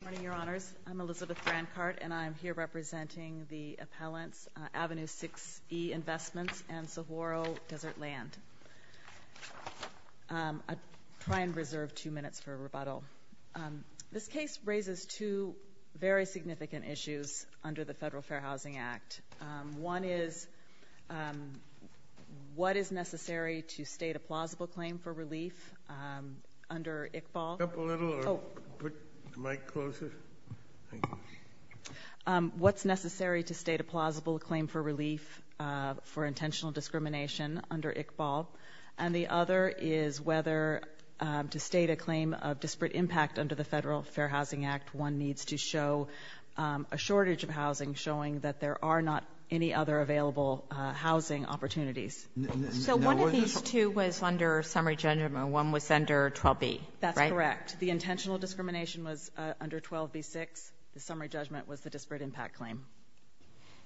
Good morning, Your Honors. I'm Elizabeth Brancart, and I'm here representing the appellants Avenue 6E Investments and Saguaro Desert Land. I'll try and reserve two minutes for rebuttal. This case raises two very significant issues under the Federal Fair Housing Act. One is what is necessary to state a plausible claim for relief under Iqbal. What's necessary to state a plausible claim for relief for intentional discrimination under Iqbal? And the other is whether to state a claim of disparate impact under the Federal Fair Housing Act, one needs to show a shortage of housing, showing that there are not any other available housing opportunities. So one of these two was under summary judgment, and one was under 12B, right? That's correct. The intentional discrimination was under 12B-6. The summary judgment was the disparate impact claim.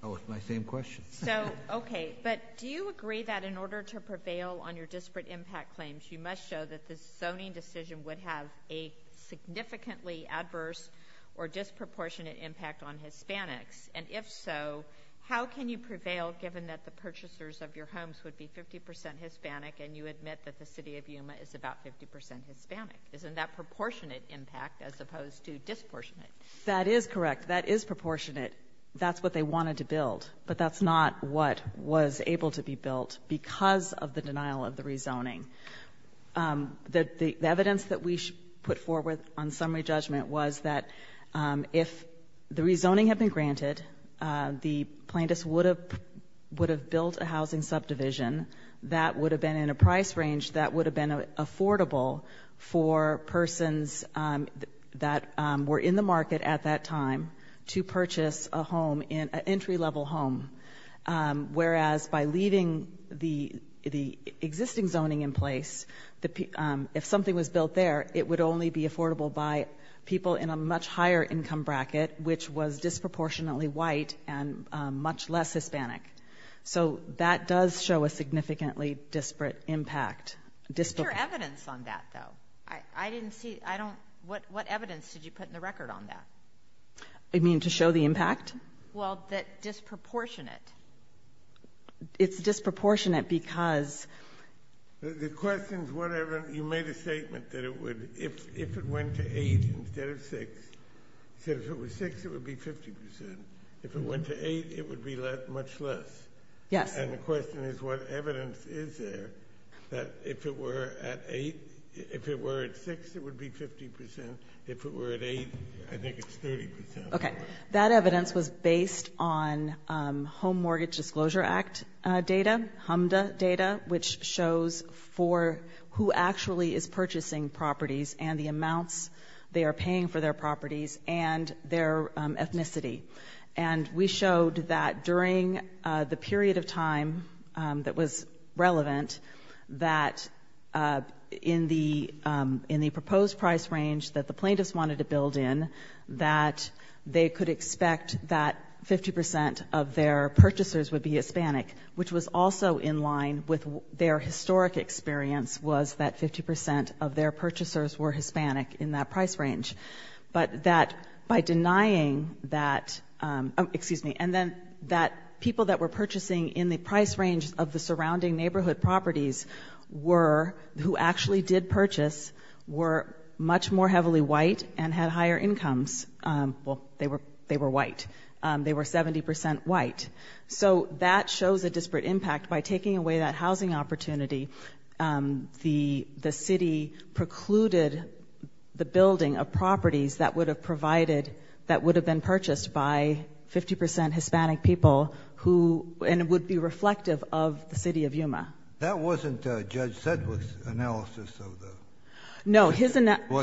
Oh, my same question. So, okay, but do you agree that in order to prevail on your disparate impact claims, you must show that the zoning decision would have a significantly adverse or disproportionate impact on Hispanics? And if so, how can you prevail given that the purchasers of your homes would be 50% Hispanic and you admit that the city of Yuma is about 50% Hispanic? Isn't that proportionate impact as opposed to disproportionate? That is correct. That is proportionate. That's what they wanted to build, but that's not what was able to be built because of the denial of the rezoning. The evidence that we put forward on summary judgment was that if the rezoning had been granted, the plaintiffs would have built a housing subdivision that would have been in a price range that would have been affordable for persons that were in the market at that time to purchase an entry-level home, whereas by leaving the existing zoning in place, if something was built there, it would only be affordable by people in a much higher income bracket, which was disproportionately white and much less Hispanic. So that does show a significantly disparate impact. What's your evidence on that, though? I didn't see, I don't, what evidence did you put in the record on that? You mean to show the impact? Well, that disproportionate. It's disproportionate because... The question is whatever, you made a statement that it would, if it went to 8 instead of 6, you said if it was 6, it would be 50%. If it went to 8, it would be much less. Yes. And the question is what evidence is there that if it were at 8, if it were at 6, it would be 50%. If it were at 8, I think it's 30%. Okay. That evidence was based on Home Mortgage Disclosure Act data, HMDA data, which shows for who actually is purchasing properties and the amounts they are paying for their properties and their ethnicity. And we showed that during the period of time that was relevant, that in the proposed price range that the plaintiffs wanted to build in, that they could expect that 50% of their purchasers would be Hispanic, which was also in line with their historic experience, was that 50% of their purchasers were Hispanic in that price range. But that by denying that, excuse me, and then that people that were purchasing in the price range of the surrounding neighborhood properties who actually did purchase were much more heavily white and had higher incomes. Well, they were white. They were 70% white. So that shows a disparate impact. By taking away that housing opportunity, the city precluded the building of properties that would have provided, that would have been purchased by 50% Hispanic people and would be reflective of the city of Yuma. That wasn't Judge Sedgwick's analysis, was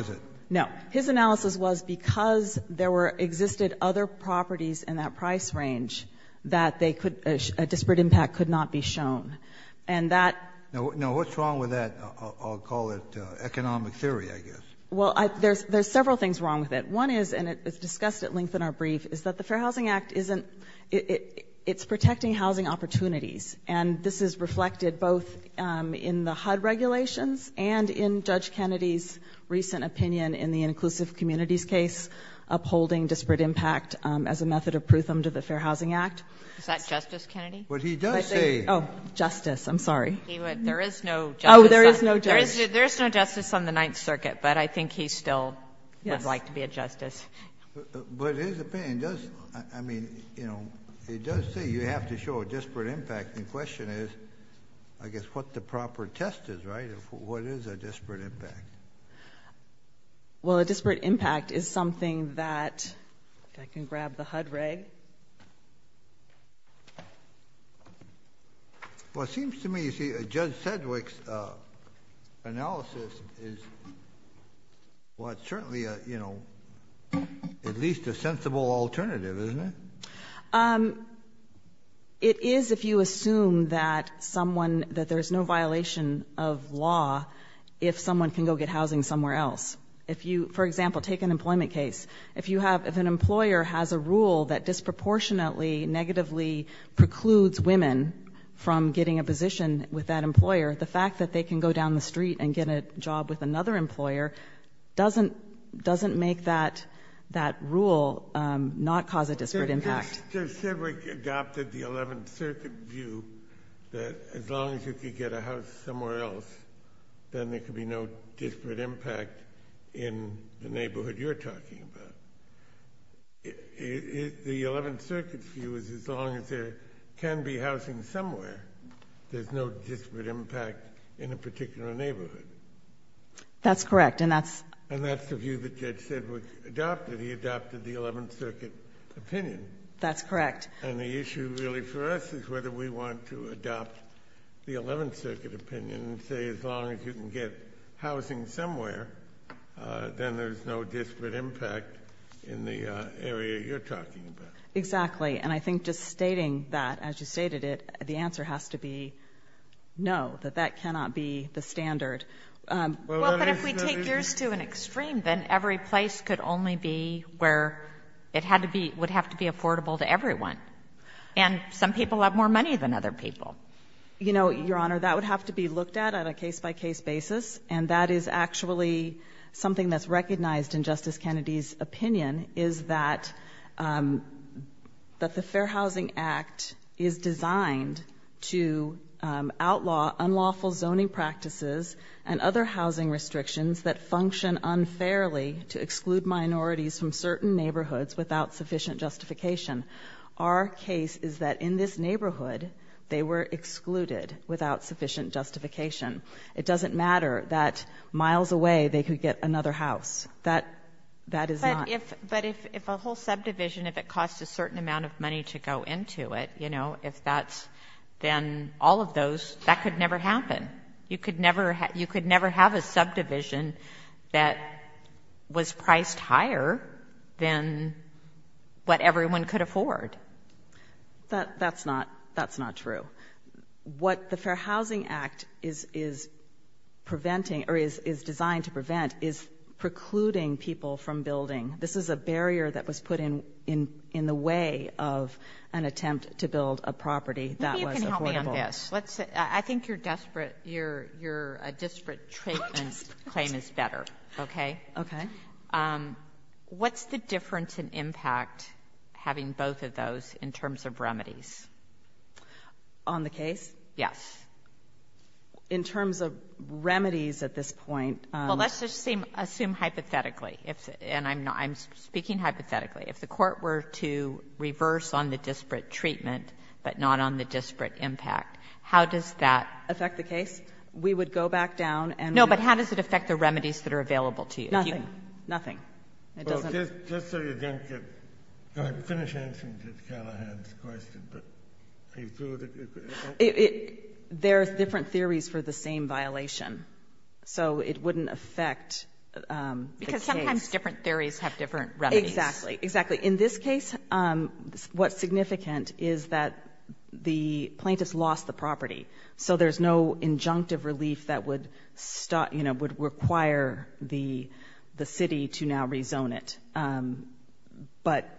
it? No. His analysis was because there existed other properties in that price range that a disparate impact could not be shown. Now, what's wrong with that? I'll call it economic theory, I guess. Well, there's several things wrong with it. One is, and it's discussed at length in our brief, is that the Fair Housing Act, it's protecting housing opportunities, and this is reflected both in the HUD regulations and in Judge Kennedy's recent opinion in the Inclusive Communities case, upholding disparate impact as a method of pruthum to the Fair Housing Act. Is that Justice Kennedy? But he does say... Oh, justice, I'm sorry. There is no justice. Oh, there is no justice. There is no justice on the Ninth Circuit, but I think he still would like to be a justice. But his opinion does, I mean, you know, he does say you have to show a disparate impact. The question is, I guess, what the proper test is, right? What is a disparate impact? Well, a disparate impact is something that... I can grab the HUD reg. Well, it seems to me, you see, Judge Sedgwick's analysis is certainly, you know, at least a sensible alternative, isn't it? It is if you assume that there's no violation of law if someone can go get housing somewhere else. For example, take an employment case. If an employer has a rule that disproportionately negatively precludes women from getting a position with that employer, the fact that they can go down the street and get a job with another employer doesn't make that rule not cause a disparate impact. Judge Sedgwick adopted the Eleventh Circuit view that as long as you can get a house somewhere else, then there can be no disparate impact in the neighborhood you're talking about. The Eleventh Circuit's view is as long as there can be housing somewhere, there's no disparate impact in a particular neighborhood. That's correct, and that's... And that's the view that Judge Sedgwick adopted. He adopted the Eleventh Circuit opinion. That's correct. And the issue really for us is whether we want to adopt the Eleventh Circuit opinion and say as long as you can get housing somewhere, then there's no disparate impact in the area you're talking about. Exactly, and I think just stating that, as you stated it, the answer has to be no, that that cannot be the standard. Well, but if we take yours to an extreme, then every place could only be where it would have to be affordable to everyone. And some people have more money than other people. You know, Your Honor, that would have to be looked at on a case-by-case basis, and that is actually something that's recognized in Justice Kennedy's opinion, is that the Fair Housing Act is designed to outlaw unlawful zoning practices and other housing restrictions that function unfairly to exclude minorities from certain neighborhoods without sufficient justification. Our case is that in this neighborhood, they were excluded without sufficient justification. It doesn't matter that miles away they could get another house. That is not... But if a whole subdivision, if it costs a certain amount of money to go into it, you know, if that's then all of those, that could never happen. You could never have a subdivision that was priced higher than what everyone could afford. That's not true. What the Fair Housing Act is preventing, or is designed to prevent, is precluding people from building. This is a barrier that was put in the way of an attempt to build a property that was affordable. Maybe you can help me on this. I think your disparate treatment claim is better, okay? Okay. What's the difference in impact having both of those in terms of remedies? On the case? Yes. In terms of remedies at this point... Well, let's just assume hypothetically, and I'm speaking hypothetically. If the Court were to reverse on the disparate treatment but not on the disparate impact, how does that... Affect the case? We would go back down and... No, but how does it affect the remedies that are available to you? Nothing, nothing. It doesn't... Just so you don't get... Go ahead and finish answering Ms. Callahan's question, but... There are different theories for the same violation, so it wouldn't affect the case. Because sometimes different theories have different remedies. Exactly, exactly. In this case, what's significant is that the plaintiff's lost the property, so there's no injunctive relief that would require the city to now rezone it. But,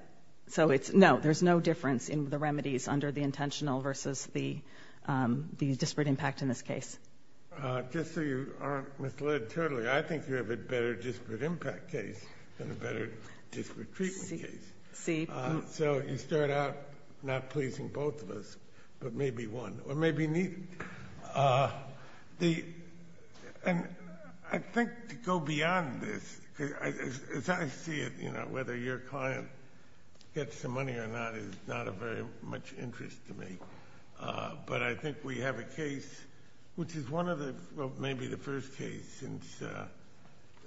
so it's... No, there's no difference in the remedies under the intentional versus the disparate impact in this case. Just so you aren't misled totally, I think you have a better disparate impact case than a better disparate treatment case. See? So you start out not pleasing both of us, but maybe one, or maybe neither. And I think to go beyond this, because as I see it, whether your client gets the money or not is not of very much interest to me. But I think we have a case, which is one of the... since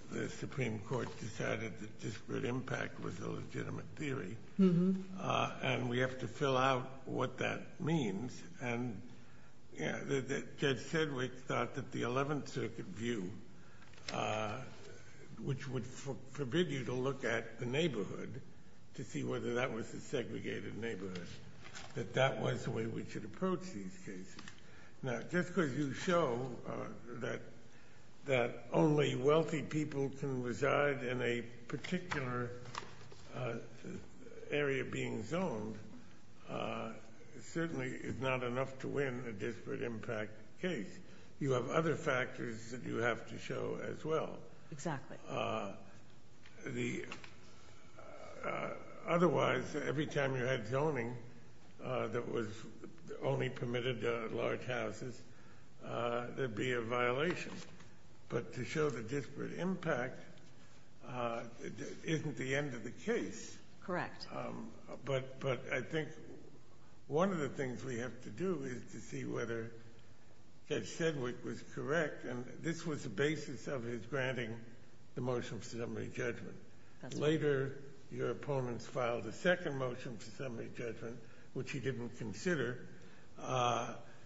the Supreme Court decided that disparate impact was a legitimate theory, and we have to fill out what that means. And Judge Sedgwick thought that the Eleventh Circuit view, which would forbid you to look at the neighborhood to see whether that was a segregated neighborhood, that that was the way we should approach these cases. Now, just because you show that only wealthy people can reside in a particular area being zoned certainly is not enough to win a disparate impact case. You have other factors that you have to show as well. Exactly. Otherwise, every time you had zoning that only permitted large houses, there'd be a violation. But to show the disparate impact isn't the end of the case. Correct. But I think one of the things we have to do is to see whether Judge Sedgwick was correct. And this was the basis of his granting the motion for summary judgment. Later, your opponents filed a second motion for summary judgment, which he didn't consider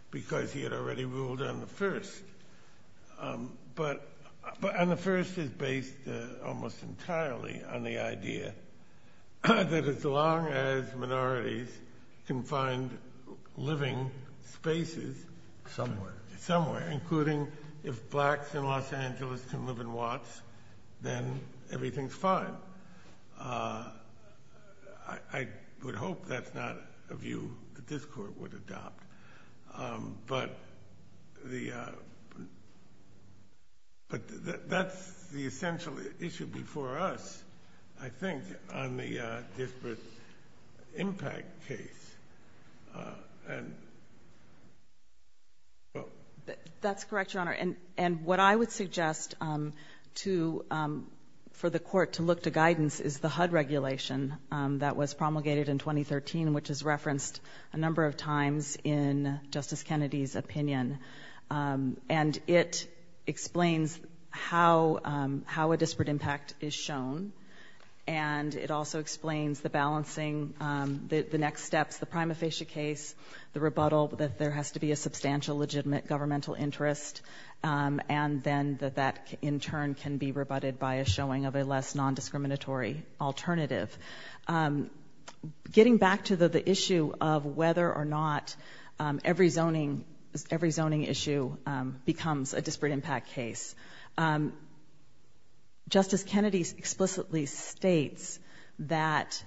because he had already ruled on the first. But on the first, it's based almost entirely on the idea that as long as minorities can find living spaces... Somewhere. Somewhere, including if blacks in Los Angeles can live in Watts, then everything's fine. I would hope that's not a view that this Court would adopt. But that's the essential issue before us, I think, on the disparate impact case. And... That's correct, Your Honor. And what I would suggest for the Court to look to guidance is the HUD regulation that was promulgated in 2013, which is referenced a number of times in Justice Kennedy's opinion. And it explains how a disparate impact is shown, and it also explains the balancing, the next steps, the prima facie case, the rebuttal that there has to be a substantial legitimate governmental interest, and then that that in turn can be rebutted by a showing of a less nondiscriminatory alternative. Getting back to the issue of whether or not every zoning issue becomes a disparate impact case, Justice Kennedy explicitly states that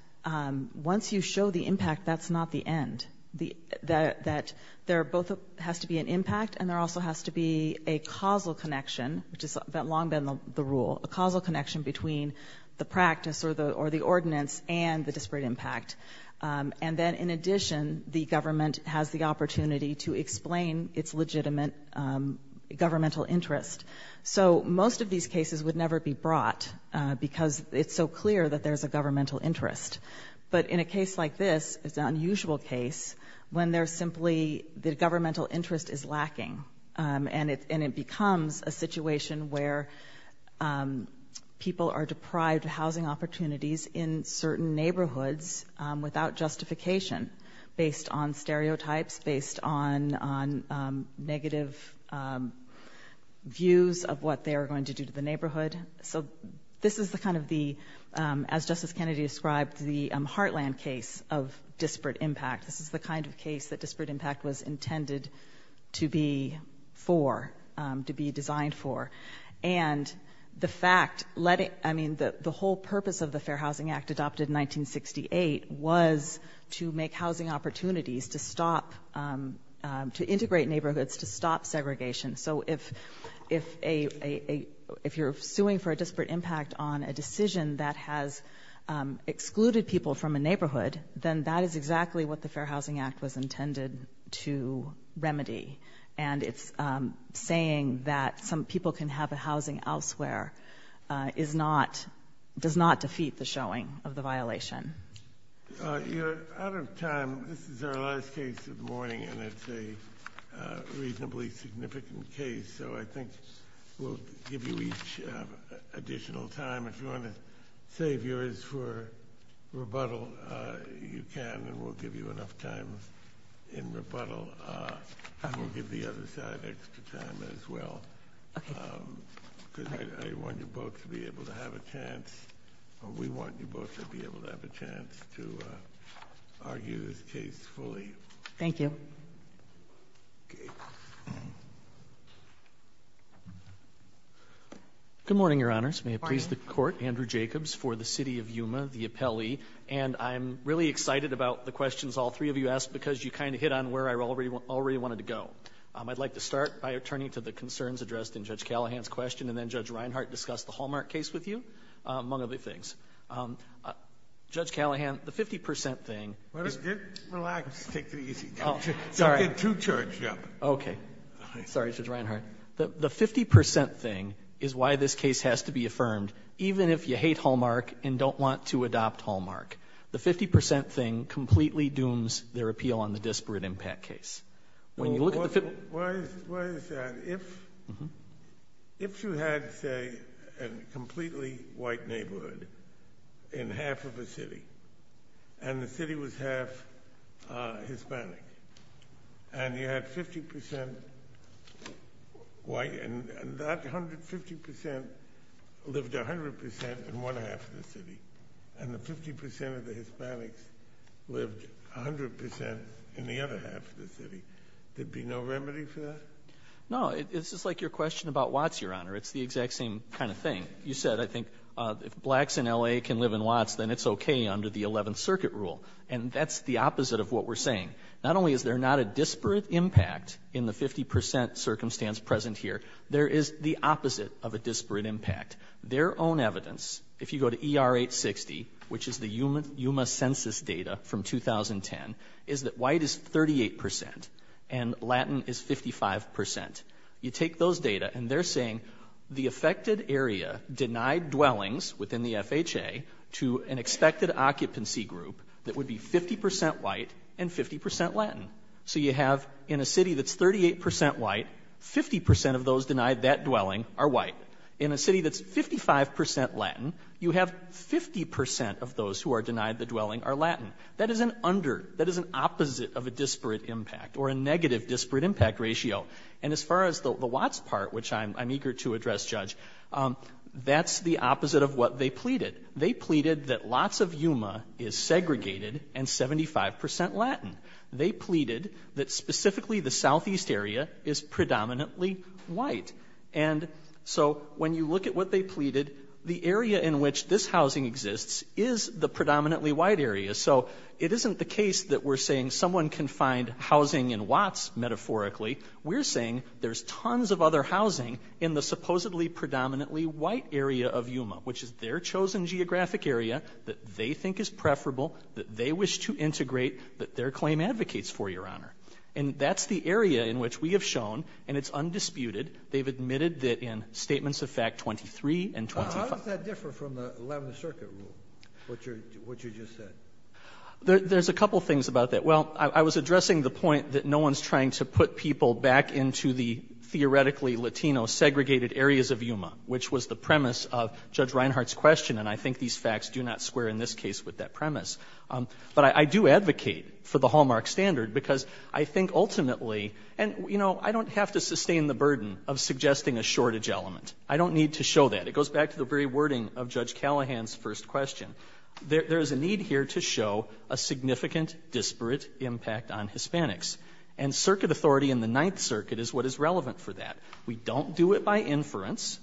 once you show the impact, that's not the end, that there both has to be an impact and there also has to be a causal connection, which has long been the rule, a causal connection between the practice or the ordinance and the disparate impact. And then, in addition, the government has the opportunity to explain its legitimate governmental interest. So most of these cases would never be brought because it's so clear that there's a governmental interest. But in a case like this, it's an unusual case when there's simply the governmental interest is lacking, and it becomes a situation where people are deprived of housing opportunities in certain neighborhoods without justification based on stereotypes, based on negative views of what they are going to do to the neighborhood. So this is the kind of the, as Justice Kennedy described, the heartland case of disparate impact. This is the kind of case that disparate impact was intended to be for, to be designed for. And the fact, I mean, the whole purpose of the Fair Housing Act adopted in 1968 was to make housing opportunities to stop, to integrate neighborhoods, to stop segregation. So if you're suing for a disparate impact on a decision that has excluded people from a neighborhood, then that is exactly what the Fair Housing Act was intended to remedy. And it's saying that some people can have a housing elsewhere is not, does not defeat the showing of the violation. You're out of time. This is our last case of the morning, and it's a reasonably significant case. So I think we'll give you each additional time. If you want to save yours for rebuttal, you can, and we'll give you enough time in rebuttal. We'll give the other side extra time as well, because I want you both to be able to have a chance. We want you both to be able to have a chance to argue this case fully. Thank you. Okay. Good morning, Your Honors. Good morning. May it please the Court, Andrew Jacobs for the City of Yuma, the appellee. And I'm really excited about the questions all three of you asked because you kind of hit on where I already wanted to go. I'd like to start by turning to the concerns addressed in Judge Callahan's question, and then Judge Reinhart discussed the Hallmark case with you, among other things. Judge Callahan, the 50 percent thing is— Just relax. Take it easy. Sorry. You're too charged up. Okay. Sorry, Judge Reinhart. The 50 percent thing is why this case has to be affirmed, even if you hate Hallmark and don't want to adopt Hallmark. The 50 percent thing completely dooms their appeal on the disparate impact case. When you look at the— Why is that? If you had, say, a completely white neighborhood in half of a city, and the city was half Hispanic, and you had 50 percent white, and that 150 percent lived 100 percent in one half of the city, and the 50 percent of the Hispanics lived 100 percent in the other half of the city, there'd be no remedy for that? No. It's just like your question about Watts, Your Honor. It's the exact same kind of thing. You said, I think, if blacks in L.A. can live in Watts, then it's okay under the Eleventh Circuit rule. And that's the opposite of what we're saying. Not only is there not a disparate impact in the 50 percent circumstance present here, there is the opposite of a disparate impact. Their own evidence, if you go to ER-860, which is the Yuma Census data from 2010, is that white is 38 percent and Latin is 55 percent. You take those data, and they're saying the affected area denied dwellings within the FHA to an expected occupancy group that would be 50 percent white and 50 percent Latin. So you have, in a city that's 38 percent white, 50 percent of those denied that dwelling are white. In a city that's 55 percent Latin, you have 50 percent of those who are denied the dwelling are Latin. That is an under, that is an opposite of a disparate impact or a negative disparate impact ratio. And as far as the Watts part, which I'm eager to address, Judge, that's the opposite of what they pleaded. They pleaded that lots of Yuma is segregated and 75 percent Latin. They pleaded that specifically the southeast area is predominantly white. And so when you look at what they pleaded, the area in which this housing exists is the predominantly white area. So it isn't the case that we're saying someone can find housing in Watts metaphorically. We're saying there's tons of other housing in the supposedly predominantly white area of Yuma, which is their chosen geographic area that they think is preferable, that they wish to integrate, that their claim advocates for, Your Honor. And that's the area in which we have shown, and it's undisputed, they've admitted that in Statements of Fact 23 and 25. How does that differ from the Eleventh Circuit rule, what you just said? There's a couple things about that. Well, I was addressing the point that no one's trying to put people back into the theoretically Latino segregated areas of Yuma, which was the premise of Judge Reinhart's question. And I think these facts do not square in this case with that premise. But I do advocate for the Hallmark standard because I think ultimately, and, you know, I don't have to sustain the burden of suggesting a shortage element. I don't need to show that. It goes back to the very wording of Judge Callahan's first question. There is a need here to show a significant disparate impact on Hispanics. And circuit authority in the Ninth Circuit is what is relevant for that. We don't do it by inference,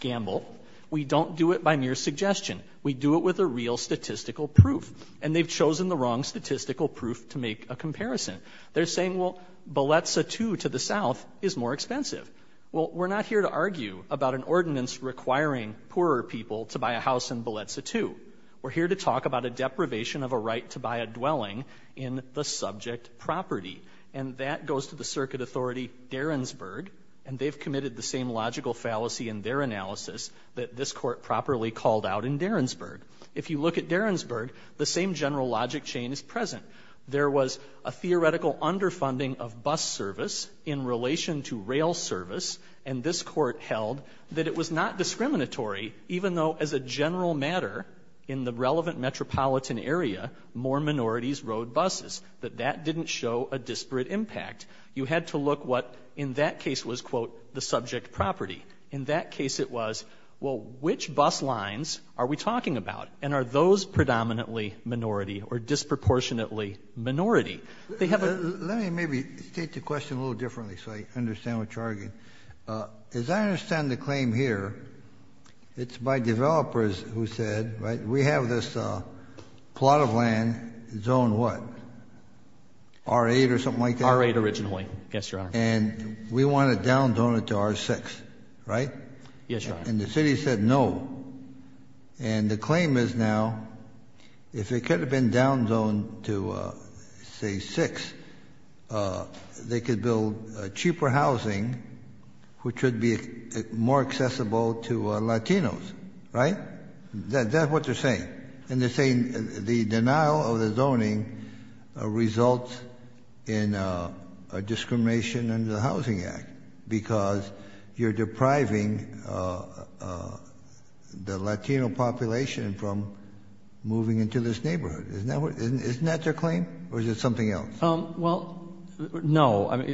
gamble. We don't do it by mere suggestion. We do it with a real statistical proof. And they've chosen the wrong statistical proof to make a comparison. They're saying, well, Baletza II to the south is more expensive. Well, we're not here to argue about an ordinance requiring poorer people to buy a house in Baletza II. We're here to talk about a deprivation of a right to buy a dwelling in the subject property. And that goes to the circuit authority, Derensburg, and they've committed the same logical fallacy in their analysis that this court properly called out in Derensburg. If you look at Derensburg, the same general logic chain is present. There was a theoretical underfunding of bus service in relation to rail service, and this court held that it was not discriminatory, even though as a general matter in the relevant metropolitan area, more minorities rode buses, that that didn't show a disparate impact. You had to look what in that case was, quote, the subject property. In that case it was, well, which bus lines are we talking about, and are those predominantly minority or disproportionately minority? Let me maybe state the question a little differently so I understand what you're arguing. As I understand the claim here, it's by developers who said, right, we have this plot of land, zone what, R-8 or something like that? R-8 originally, yes, Your Honor. And we want to down zone it to R-6, right? Yes, Your Honor. And the city said no. And the claim is now if it could have been down zoned to, say, R-6, they could build cheaper housing which would be more accessible to Latinos, right? That's what they're saying. And they're saying the denial of the zoning results in a discrimination under the Housing Act because you're depriving the Latino population from moving into this neighborhood. Isn't that their claim? Or is it something else? Well, no,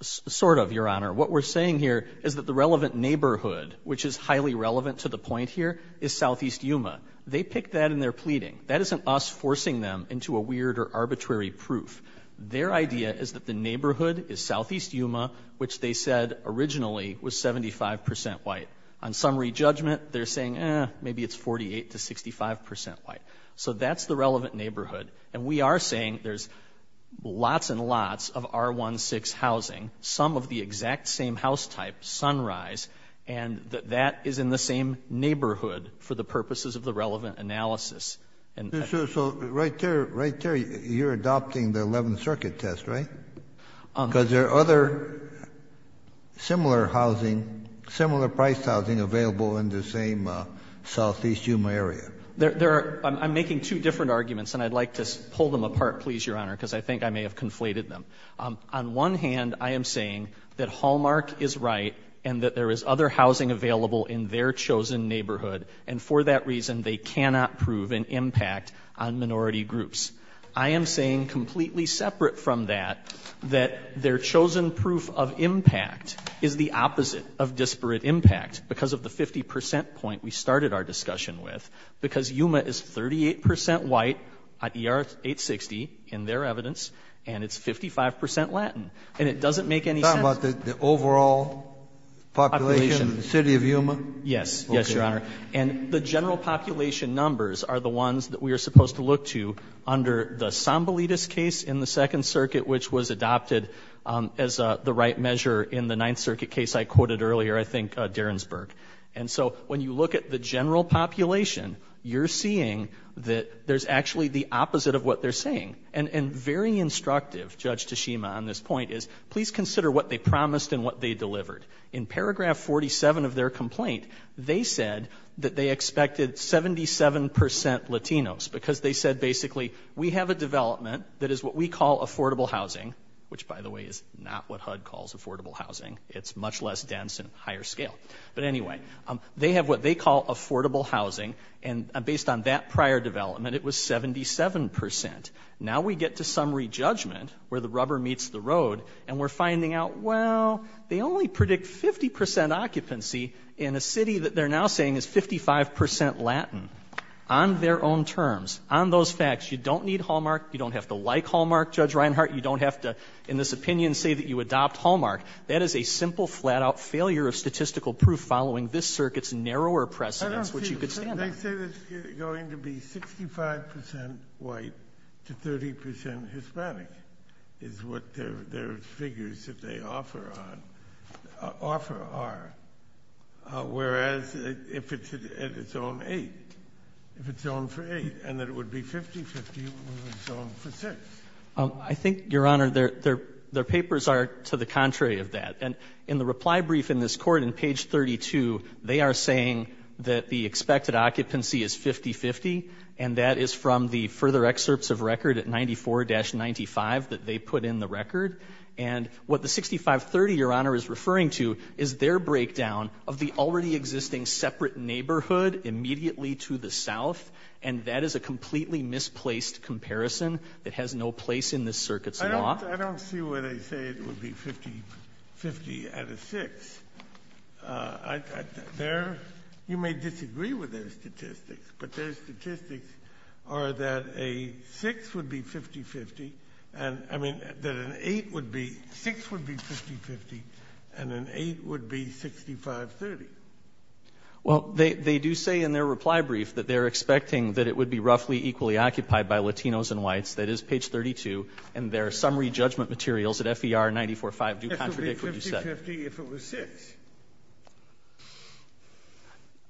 sort of, Your Honor. What we're saying here is that the relevant neighborhood, which is highly relevant to the point here, is southeast Yuma. They picked that in their pleading. That isn't us forcing them into a weird or arbitrary proof. Their idea is that the neighborhood is southeast Yuma, which they said originally was 75 percent white. On summary judgment, they're saying, eh, maybe it's 48 to 65 percent white. So that's the relevant neighborhood. And we are saying there's lots and lots of R-1-6 housing, some of the exact same house type, Sunrise, and that that is in the same neighborhood for the purposes of the relevant analysis. So right there, right there, you're adopting the 11th Circuit test, right? Because there are other similar housing, similar price housing available in the same southeast Yuma area. I'm making two different arguments, and I'd like to pull them apart, please, Your Honor, because I think I may have conflated them. On one hand, I am saying that Hallmark is right and that there is other housing available in their chosen neighborhood. And for that reason, they cannot prove an impact on minority groups. I am saying, completely separate from that, that their chosen proof of impact is the opposite of disparate impact because of the 50 percent point we started our discussion with, because Yuma is 38 percent white at ER-860, in their evidence, and it's 55 percent Latin. And it doesn't make any sense. Are you talking about the overall population of the city of Yuma? Yes. Yes, Your Honor. And the general population numbers are the ones that we are supposed to look to under the Sambelidis case in the 2nd Circuit, which was adopted as the right measure in the 9th Circuit case I quoted earlier, I think, Derensburg. And so when you look at the general population, you're seeing that there's actually the opposite of what they're saying. And very instructive, Judge Tashima, on this point is, please consider what they promised and what they delivered. In paragraph 47 of their complaint, they said that they expected 77 percent Latinos because they said, basically, we have a development that is what we call affordable housing, which, by the way, is not what HUD calls affordable housing. It's much less dense and higher scale. But anyway, they have what they call affordable housing, and based on that prior development, it was 77 percent. Now we get to summary judgment, where the rubber meets the road, and we're finding out, well, they only predict 50 percent occupancy in a city that they're now saying is 55 percent Latin, on their own terms, on those facts. You don't need Hallmark. You don't have to like Hallmark, Judge Reinhart. You don't have to, in this opinion, say that you adopt Hallmark. That is a simple, flat-out failure of statistical proof following this Circuit's narrower precedence, which you could stand on. I say that it's going to be 65 percent white to 30 percent Hispanic is what their figures that they offer are, whereas if it's on 8, if it's on for 8 and that it would be 50-50, it's on for 6. I think, Your Honor, their papers are to the contrary of that. And in the reply brief in this Court, in page 32, they are saying that the expected occupancy is 50-50, and that is from the further excerpts of record at 94-95 that they put in the record. And what the 65-30, Your Honor, is referring to is their breakdown of the already existing separate neighborhood immediately to the south, and that is a completely misplaced comparison that has no place in this Circuit's law. I don't see where they say it would be 50-50 out of 6. You may disagree with their statistics, but their statistics are that a 6 would be 50-50 and, I mean, that an 8 would be, 6 would be 50-50 and an 8 would be 65-30. Well, they do say in their reply brief that they're expecting that it would be roughly equally occupied by Latinos and whites. That is page 32. And their summary judgment materials at FER 94-5 do contradict what you said. This would be 50-50 if it was 6.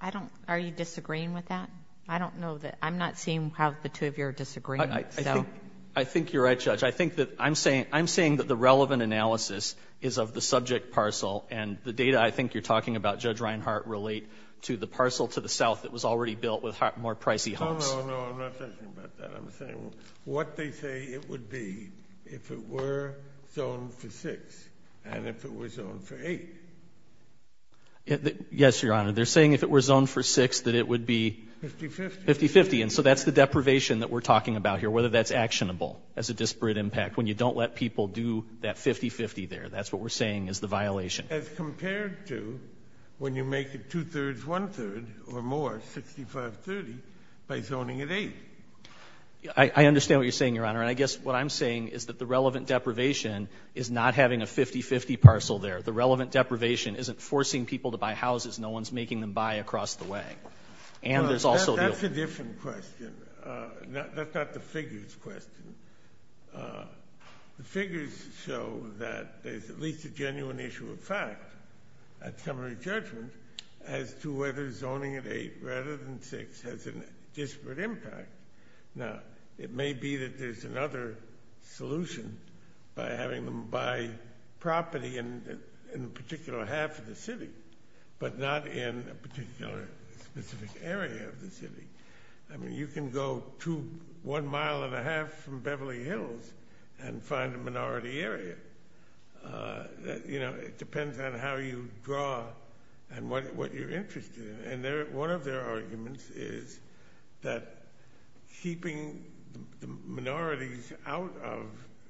I don't – are you disagreeing with that? I don't know that – I'm not seeing how the two of you are disagreeing. I think – I think you're right, Judge. I think that I'm saying – I'm saying that the relevant analysis is of the subject parcel, and the data I think you're talking about, Judge Reinhart, relate to the parcel to the south that was already built with more pricey homes. No, no, no. I'm not talking about that. I'm saying what they say it would be if it were zoned for 6 and if it were zoned for 8. Yes, Your Honor. They're saying if it were zoned for 6 that it would be – 50-50. 50-50. And so that's the deprivation that we're talking about here, whether that's actionable as a disparate impact, when you don't let people do that 50-50 there. That's what we're saying is the violation. As compared to when you make it two-thirds, one-third, or more, 65-30, by zoning it 8. I understand what you're saying, Your Honor. And I guess what I'm saying is that the relevant deprivation is not having a 50-50 parcel there. The relevant deprivation isn't forcing people to buy houses. No one's making them buy across the way. And there's also – That's a different question. That's not the figures question. The figures show that there's at least a genuine issue of fact, a summary judgment, as to whether zoning it 8 rather than 6 has a disparate impact. Now, it may be that there's another solution by having them buy property in a particular half of the city, but not in a particular specific area of the city. I mean, you can go one mile and a half from Beverly Hills and find a minority area. It depends on how you draw and what you're interested in. And one of their arguments is that keeping the minorities out of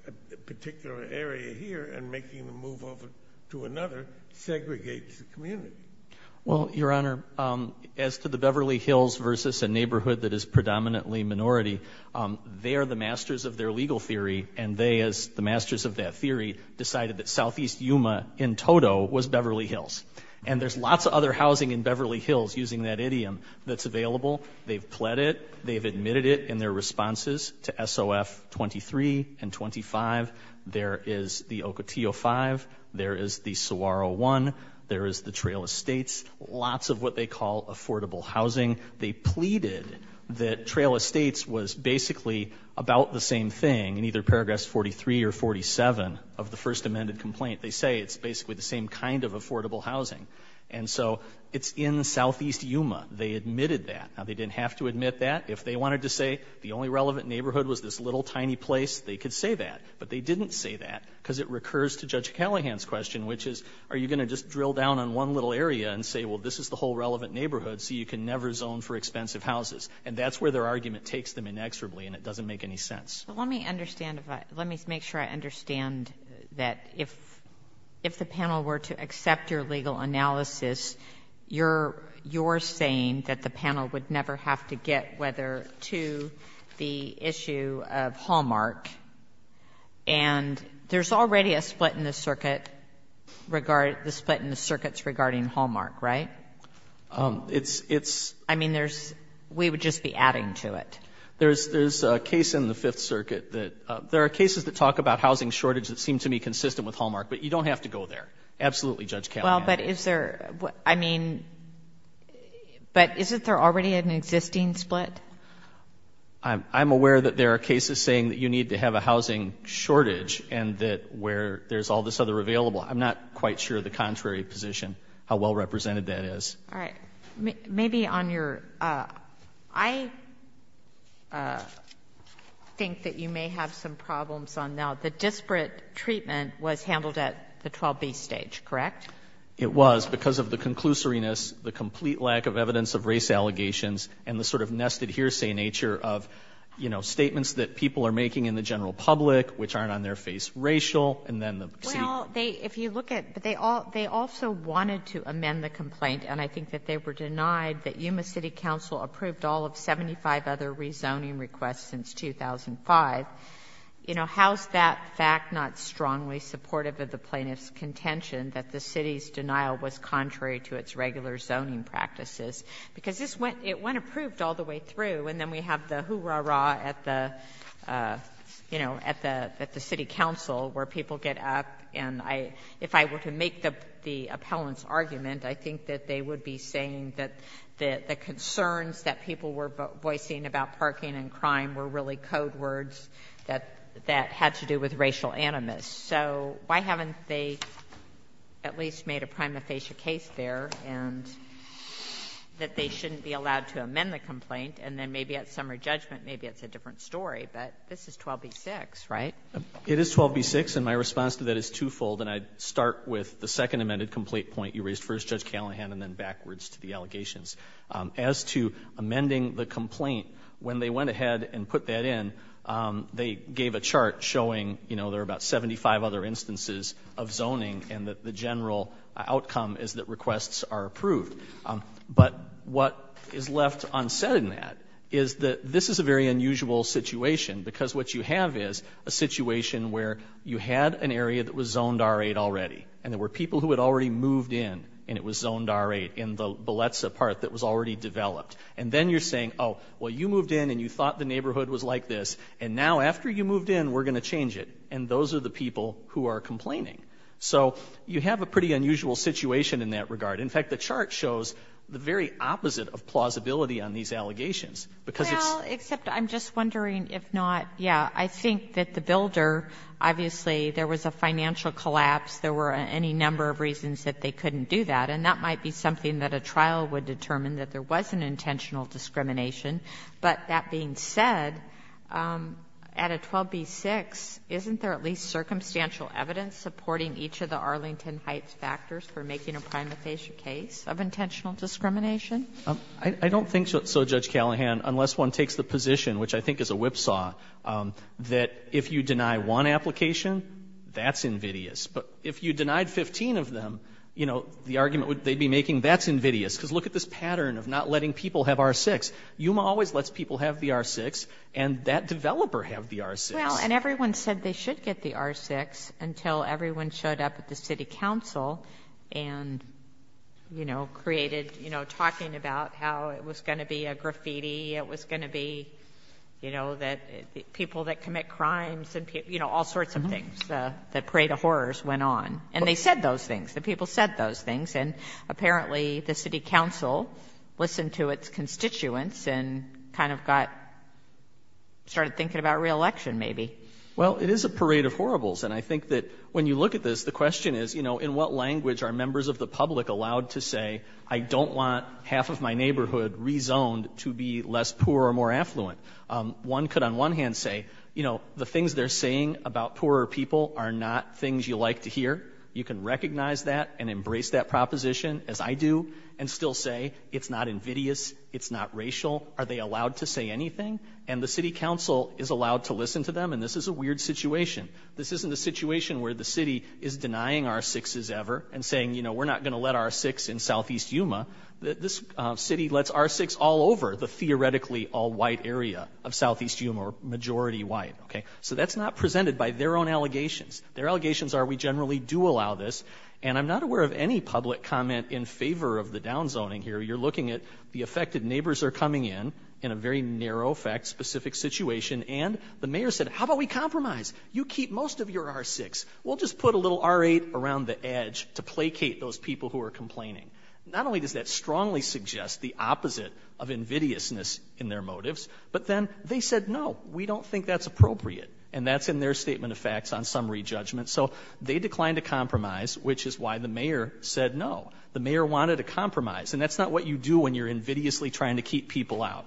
a particular area here and making them move over to another segregates the community. Well, Your Honor, as to the Beverly Hills versus a neighborhood that is predominantly minority, they are the masters of their legal theory. And they, as the masters of that theory, decided that southeast Yuma in total was Beverly Hills. And there's lots of other housing in Beverly Hills, using that idiom, that's available. They've pled it. They've admitted it in their responses to SOF 23 and 25. There is the Ocotillo 5. There is the Saguaro 1. There is the Trail Estates. Lots of what they call affordable housing. They pleaded that Trail Estates was basically about the same thing in either Paragraphs 43 or 47 of the first amended complaint. They say it's basically the same kind of affordable housing. And so it's in southeast Yuma. They admitted that. Now, they didn't have to admit that. If they wanted to say the only relevant neighborhood was this little tiny place, they could say that. But they didn't say that because it recurs to Judge Callahan's question, which is, are you going to just drill down on one little area and say, well, this is the whole relevant neighborhood, so you can never zone for expensive houses? And that's where their argument takes them inexorably, and it doesn't make any sense. But let me understand if I — let me make sure I understand that if the panel were to accept your legal analysis, you're saying that the panel would never have to get whether to the issue of Hallmark, and there's already a split in the circuit regarding — the split in the circuits regarding Hallmark, right? I mean, there's — we would just be adding to it. There's a case in the Fifth Circuit that — there are cases that talk about housing shortage that seem to me consistent with Hallmark, but you don't have to go there. Absolutely, Judge Callahan. Well, but is there — I mean, but isn't there already an existing split? I'm aware that there are cases saying that you need to have a housing shortage and that where there's all this other available. I'm not quite sure of the contrary position, how well represented that is. All right. Maybe on your — I think that you may have some problems on now. The disparate treatment was handled at the 12B stage, correct? It was because of the conclusoriness, the complete lack of evidence of race allegations, and the sort of nested hearsay nature of, you know, statements that people are making in the general public which aren't on their face racial, and then the — Well, they — if you look at — but they also wanted to amend the complaint, and I think that they were denied that Yuma City Council approved all of 75 other supportive of the plaintiff's contention that the City's denial was contrary to its regular zoning practices. Because this went — it went approved all the way through, and then we have the hoo-rah-rah at the, you know, at the City Council where people get up and I — if I were to make the appellant's argument, I think that they would be saying that the concerns that people were voicing about parking and crime were really code words that had to do with racial animus. So why haven't they at least made a prima facie case there and that they shouldn't be allowed to amend the complaint? And then maybe at summer judgment, maybe it's a different story. But this is 12B-6, right? It is 12B-6, and my response to that is twofold. And I'd start with the second amended complaint point you raised first, Judge Callahan, and then backwards to the allegations. As to amending the complaint, when they went ahead and put that in, they gave a chart showing, you know, there are about 75 other instances of zoning and that the general outcome is that requests are approved. But what is left unsaid in that is that this is a very unusual situation because what you have is a situation where you had an area that was zoned R-8 already, and there were people who had already moved in and it was zoned R-8 in the neighborhood that was already developed. And then you're saying, oh, well, you moved in and you thought the neighborhood was like this, and now after you moved in, we're going to change it. And those are the people who are complaining. So you have a pretty unusual situation in that regard. In fact, the chart shows the very opposite of plausibility on these allegations because it's — Well, except I'm just wondering if not, yeah, I think that the builder, obviously there was a financial collapse. There were any number of reasons that they couldn't do that, and that might be something that a trial would determine, that there was an intentional discrimination. But that being said, at a 12b-6, isn't there at least circumstantial evidence supporting each of the Arlington Heights factors for making a prima facie case of intentional discrimination? I don't think so, Judge Callahan, unless one takes the position, which I think is a whipsaw, that if you deny one application, that's invidious. But if you denied 15 of them, you know, the argument they'd be making, that's invidious. Because look at this pattern of not letting people have R-6. Yuma always lets people have the R-6, and that developer had the R-6. Well, and everyone said they should get the R-6 until everyone showed up at the city council and, you know, created — you know, talking about how it was going to be a graffiti, it was going to be, you know, people that commit crimes, you know, all of those went on. And they said those things. The people said those things. And apparently the city council listened to its constituents and kind of got — started thinking about reelection, maybe. Well, it is a parade of horribles. And I think that when you look at this, the question is, you know, in what language are members of the public allowed to say, I don't want half of my neighborhood rezoned to be less poor or more affluent? One could, on one hand, say, you know, the things they're saying about poorer people are not things you like to hear. You can recognize that and embrace that proposition, as I do, and still say it's not invidious, it's not racial. Are they allowed to say anything? And the city council is allowed to listen to them, and this is a weird situation. This isn't a situation where the city is denying R-6s ever and saying, you know, we're not going to let R-6 in southeast Yuma. This city lets R-6 all over the theoretically all-white area of southeast Yuma, majority white, okay? So that's not presented by their own allegations. Their allegations are we generally do allow this, and I'm not aware of any public comment in favor of the downzoning here. You're looking at the affected neighbors are coming in, in a very narrow, fact-specific situation, and the mayor said, how about we compromise? You keep most of your R-6. We'll just put a little R-8 around the edge to placate those people who are complaining. Not only does that strongly suggest the opposite of invidiousness in their motives, but then they said, no, we don't think that's appropriate. And that's in their statement of facts on summary judgment. So they declined to compromise, which is why the mayor said no. The mayor wanted a compromise, and that's not what you do when you're invidiously trying to keep people out.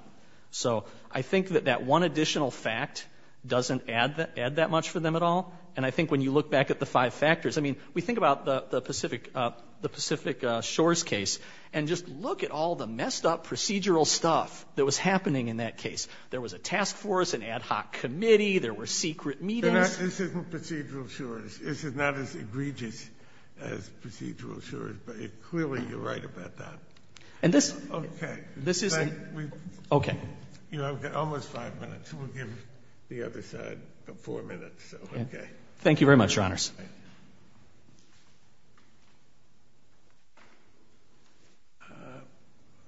So I think that that one additional fact doesn't add that much for them at all, and I think when you look back at the five factors, I mean, we think about the Pacific Shores case, and just look at all the messed up procedural stuff that was in the case. There was a task force, an ad hoc committee. There were secret meetings. This isn't procedural shores. This is not as egregious as procedural shores, but clearly you're right about that. Okay. Okay. You know, I've got almost five minutes. We'll give the other side four minutes, so okay. Thank you very much, Your Honors.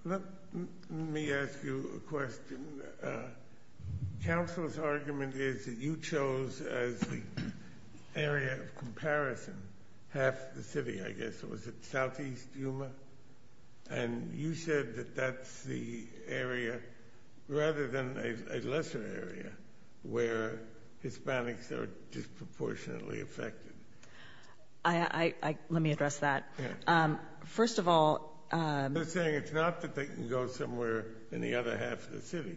Let me ask you a question. Counsel's argument is that you chose as the area of comparison half the city, I guess. Was it southeast Yuma? And you said that that's the area rather than a lesser area where Hispanics are disproportionately affected. Let me address that. First of all... They're saying it's not that they can go somewhere in the other half of the city.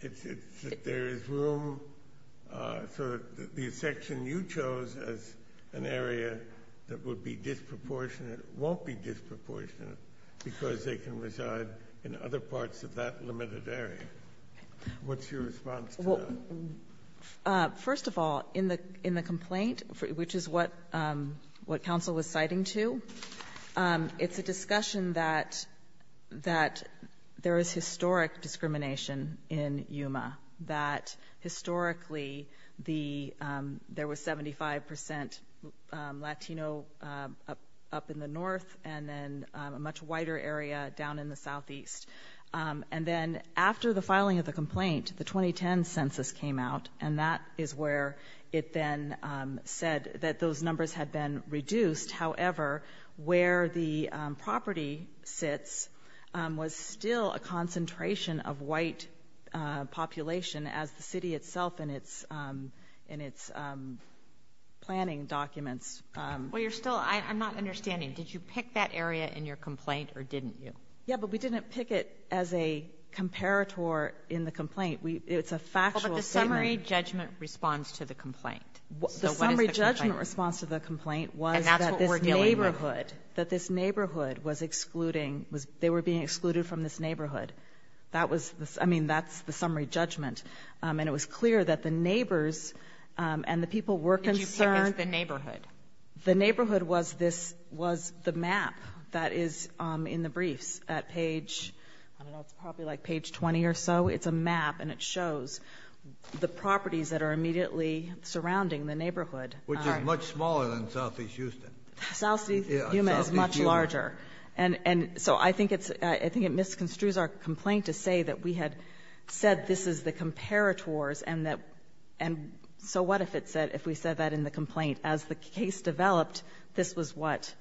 It's that there is room for the section you chose as an area that would be disproportionate, won't be disproportionate, because they can reside in other parts of that limited area. What's your response to that? First of all, in the complaint, which is what counsel was citing to, it's a discussion that there is historic discrimination in Yuma, that historically there was 75% Latino up in the north and then a much wider area down in the southeast. And then after the filing of the complaint, the 2010 census came out, and that is where it then said that those numbers had been reduced. However, where the property sits was still a concentration of white population as the city itself in its planning documents... Well, you're still... I'm not understanding. Did you pick that area in your complaint or didn't you? Yeah, but we didn't pick it as a comparator in the complaint. It's a factual statement. Well, but the summary judgment response to the complaint. So what is the complaint? The summary judgment response to the complaint was... And that's what we're dealing with. ...that this neighborhood was excluding, they were being excluded from this neighborhood. I mean, that's the summary judgment. And it was clear that the neighbors and the people were concerned... Did you pick as the neighborhood? The neighborhood was the map that is in the briefs at page, I don't know, it's probably like page 20 or so. It's a map and it shows the properties that are immediately surrounding the neighborhood. Which is much smaller than southeast Houston. Southeast Yuma is much larger. And so I think it misconstrues our complaint to say that we had said this is the comparators and so what if it said, if we said that in the complaint, as the case developed, this was what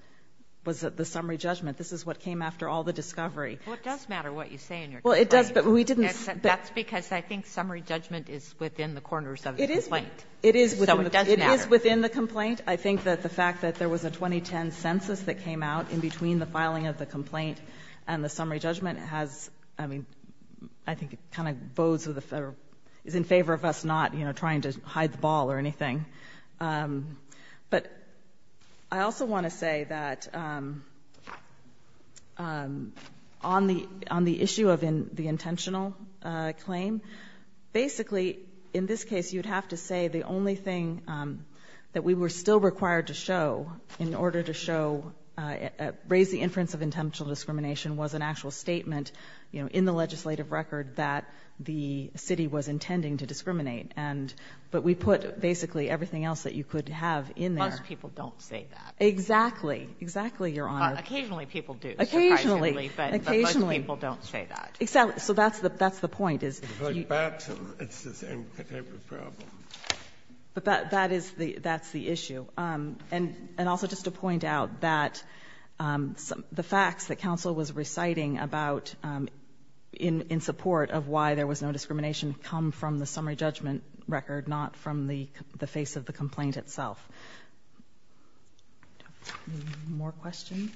was the summary judgment. This is what came after all the discovery. Well, it does matter what you say in your complaint. Well, it does, but we didn't... That's because I think summary judgment is within the corners of the complaint. It is. So it does matter. It is within the complaint. I think that the fact that there was a 2010 census that came out in between the filing of the complaint and the summary judgment has, I mean, I think it kind of is in favor of us not trying to hide the ball or anything. But I also want to say that on the issue of the intentional claim, basically in this case you'd have to say the only thing that we were still required to show in order to show, raise the inference of intentional discrimination was an actual statement in the legislative record that the city was intending to discriminate. But we put basically everything else that you could have in there. Most people don't say that. Exactly. Exactly, Your Honor. Occasionally people do, surprisingly. Occasionally. But most people don't say that. Exactly. So that's the point. It's the same type of problem. But that's the issue. And also just to point out that the facts that counsel was reciting in support of why there was no discrimination come from the summary judgment record, not from the face of the complaint itself. Any more questions?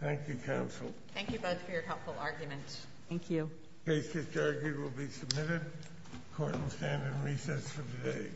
Thank you, counsel. Thank you, Bud, for your helpful argument. Thank you. Case discharge will be submitted. Court will stand in recess for today.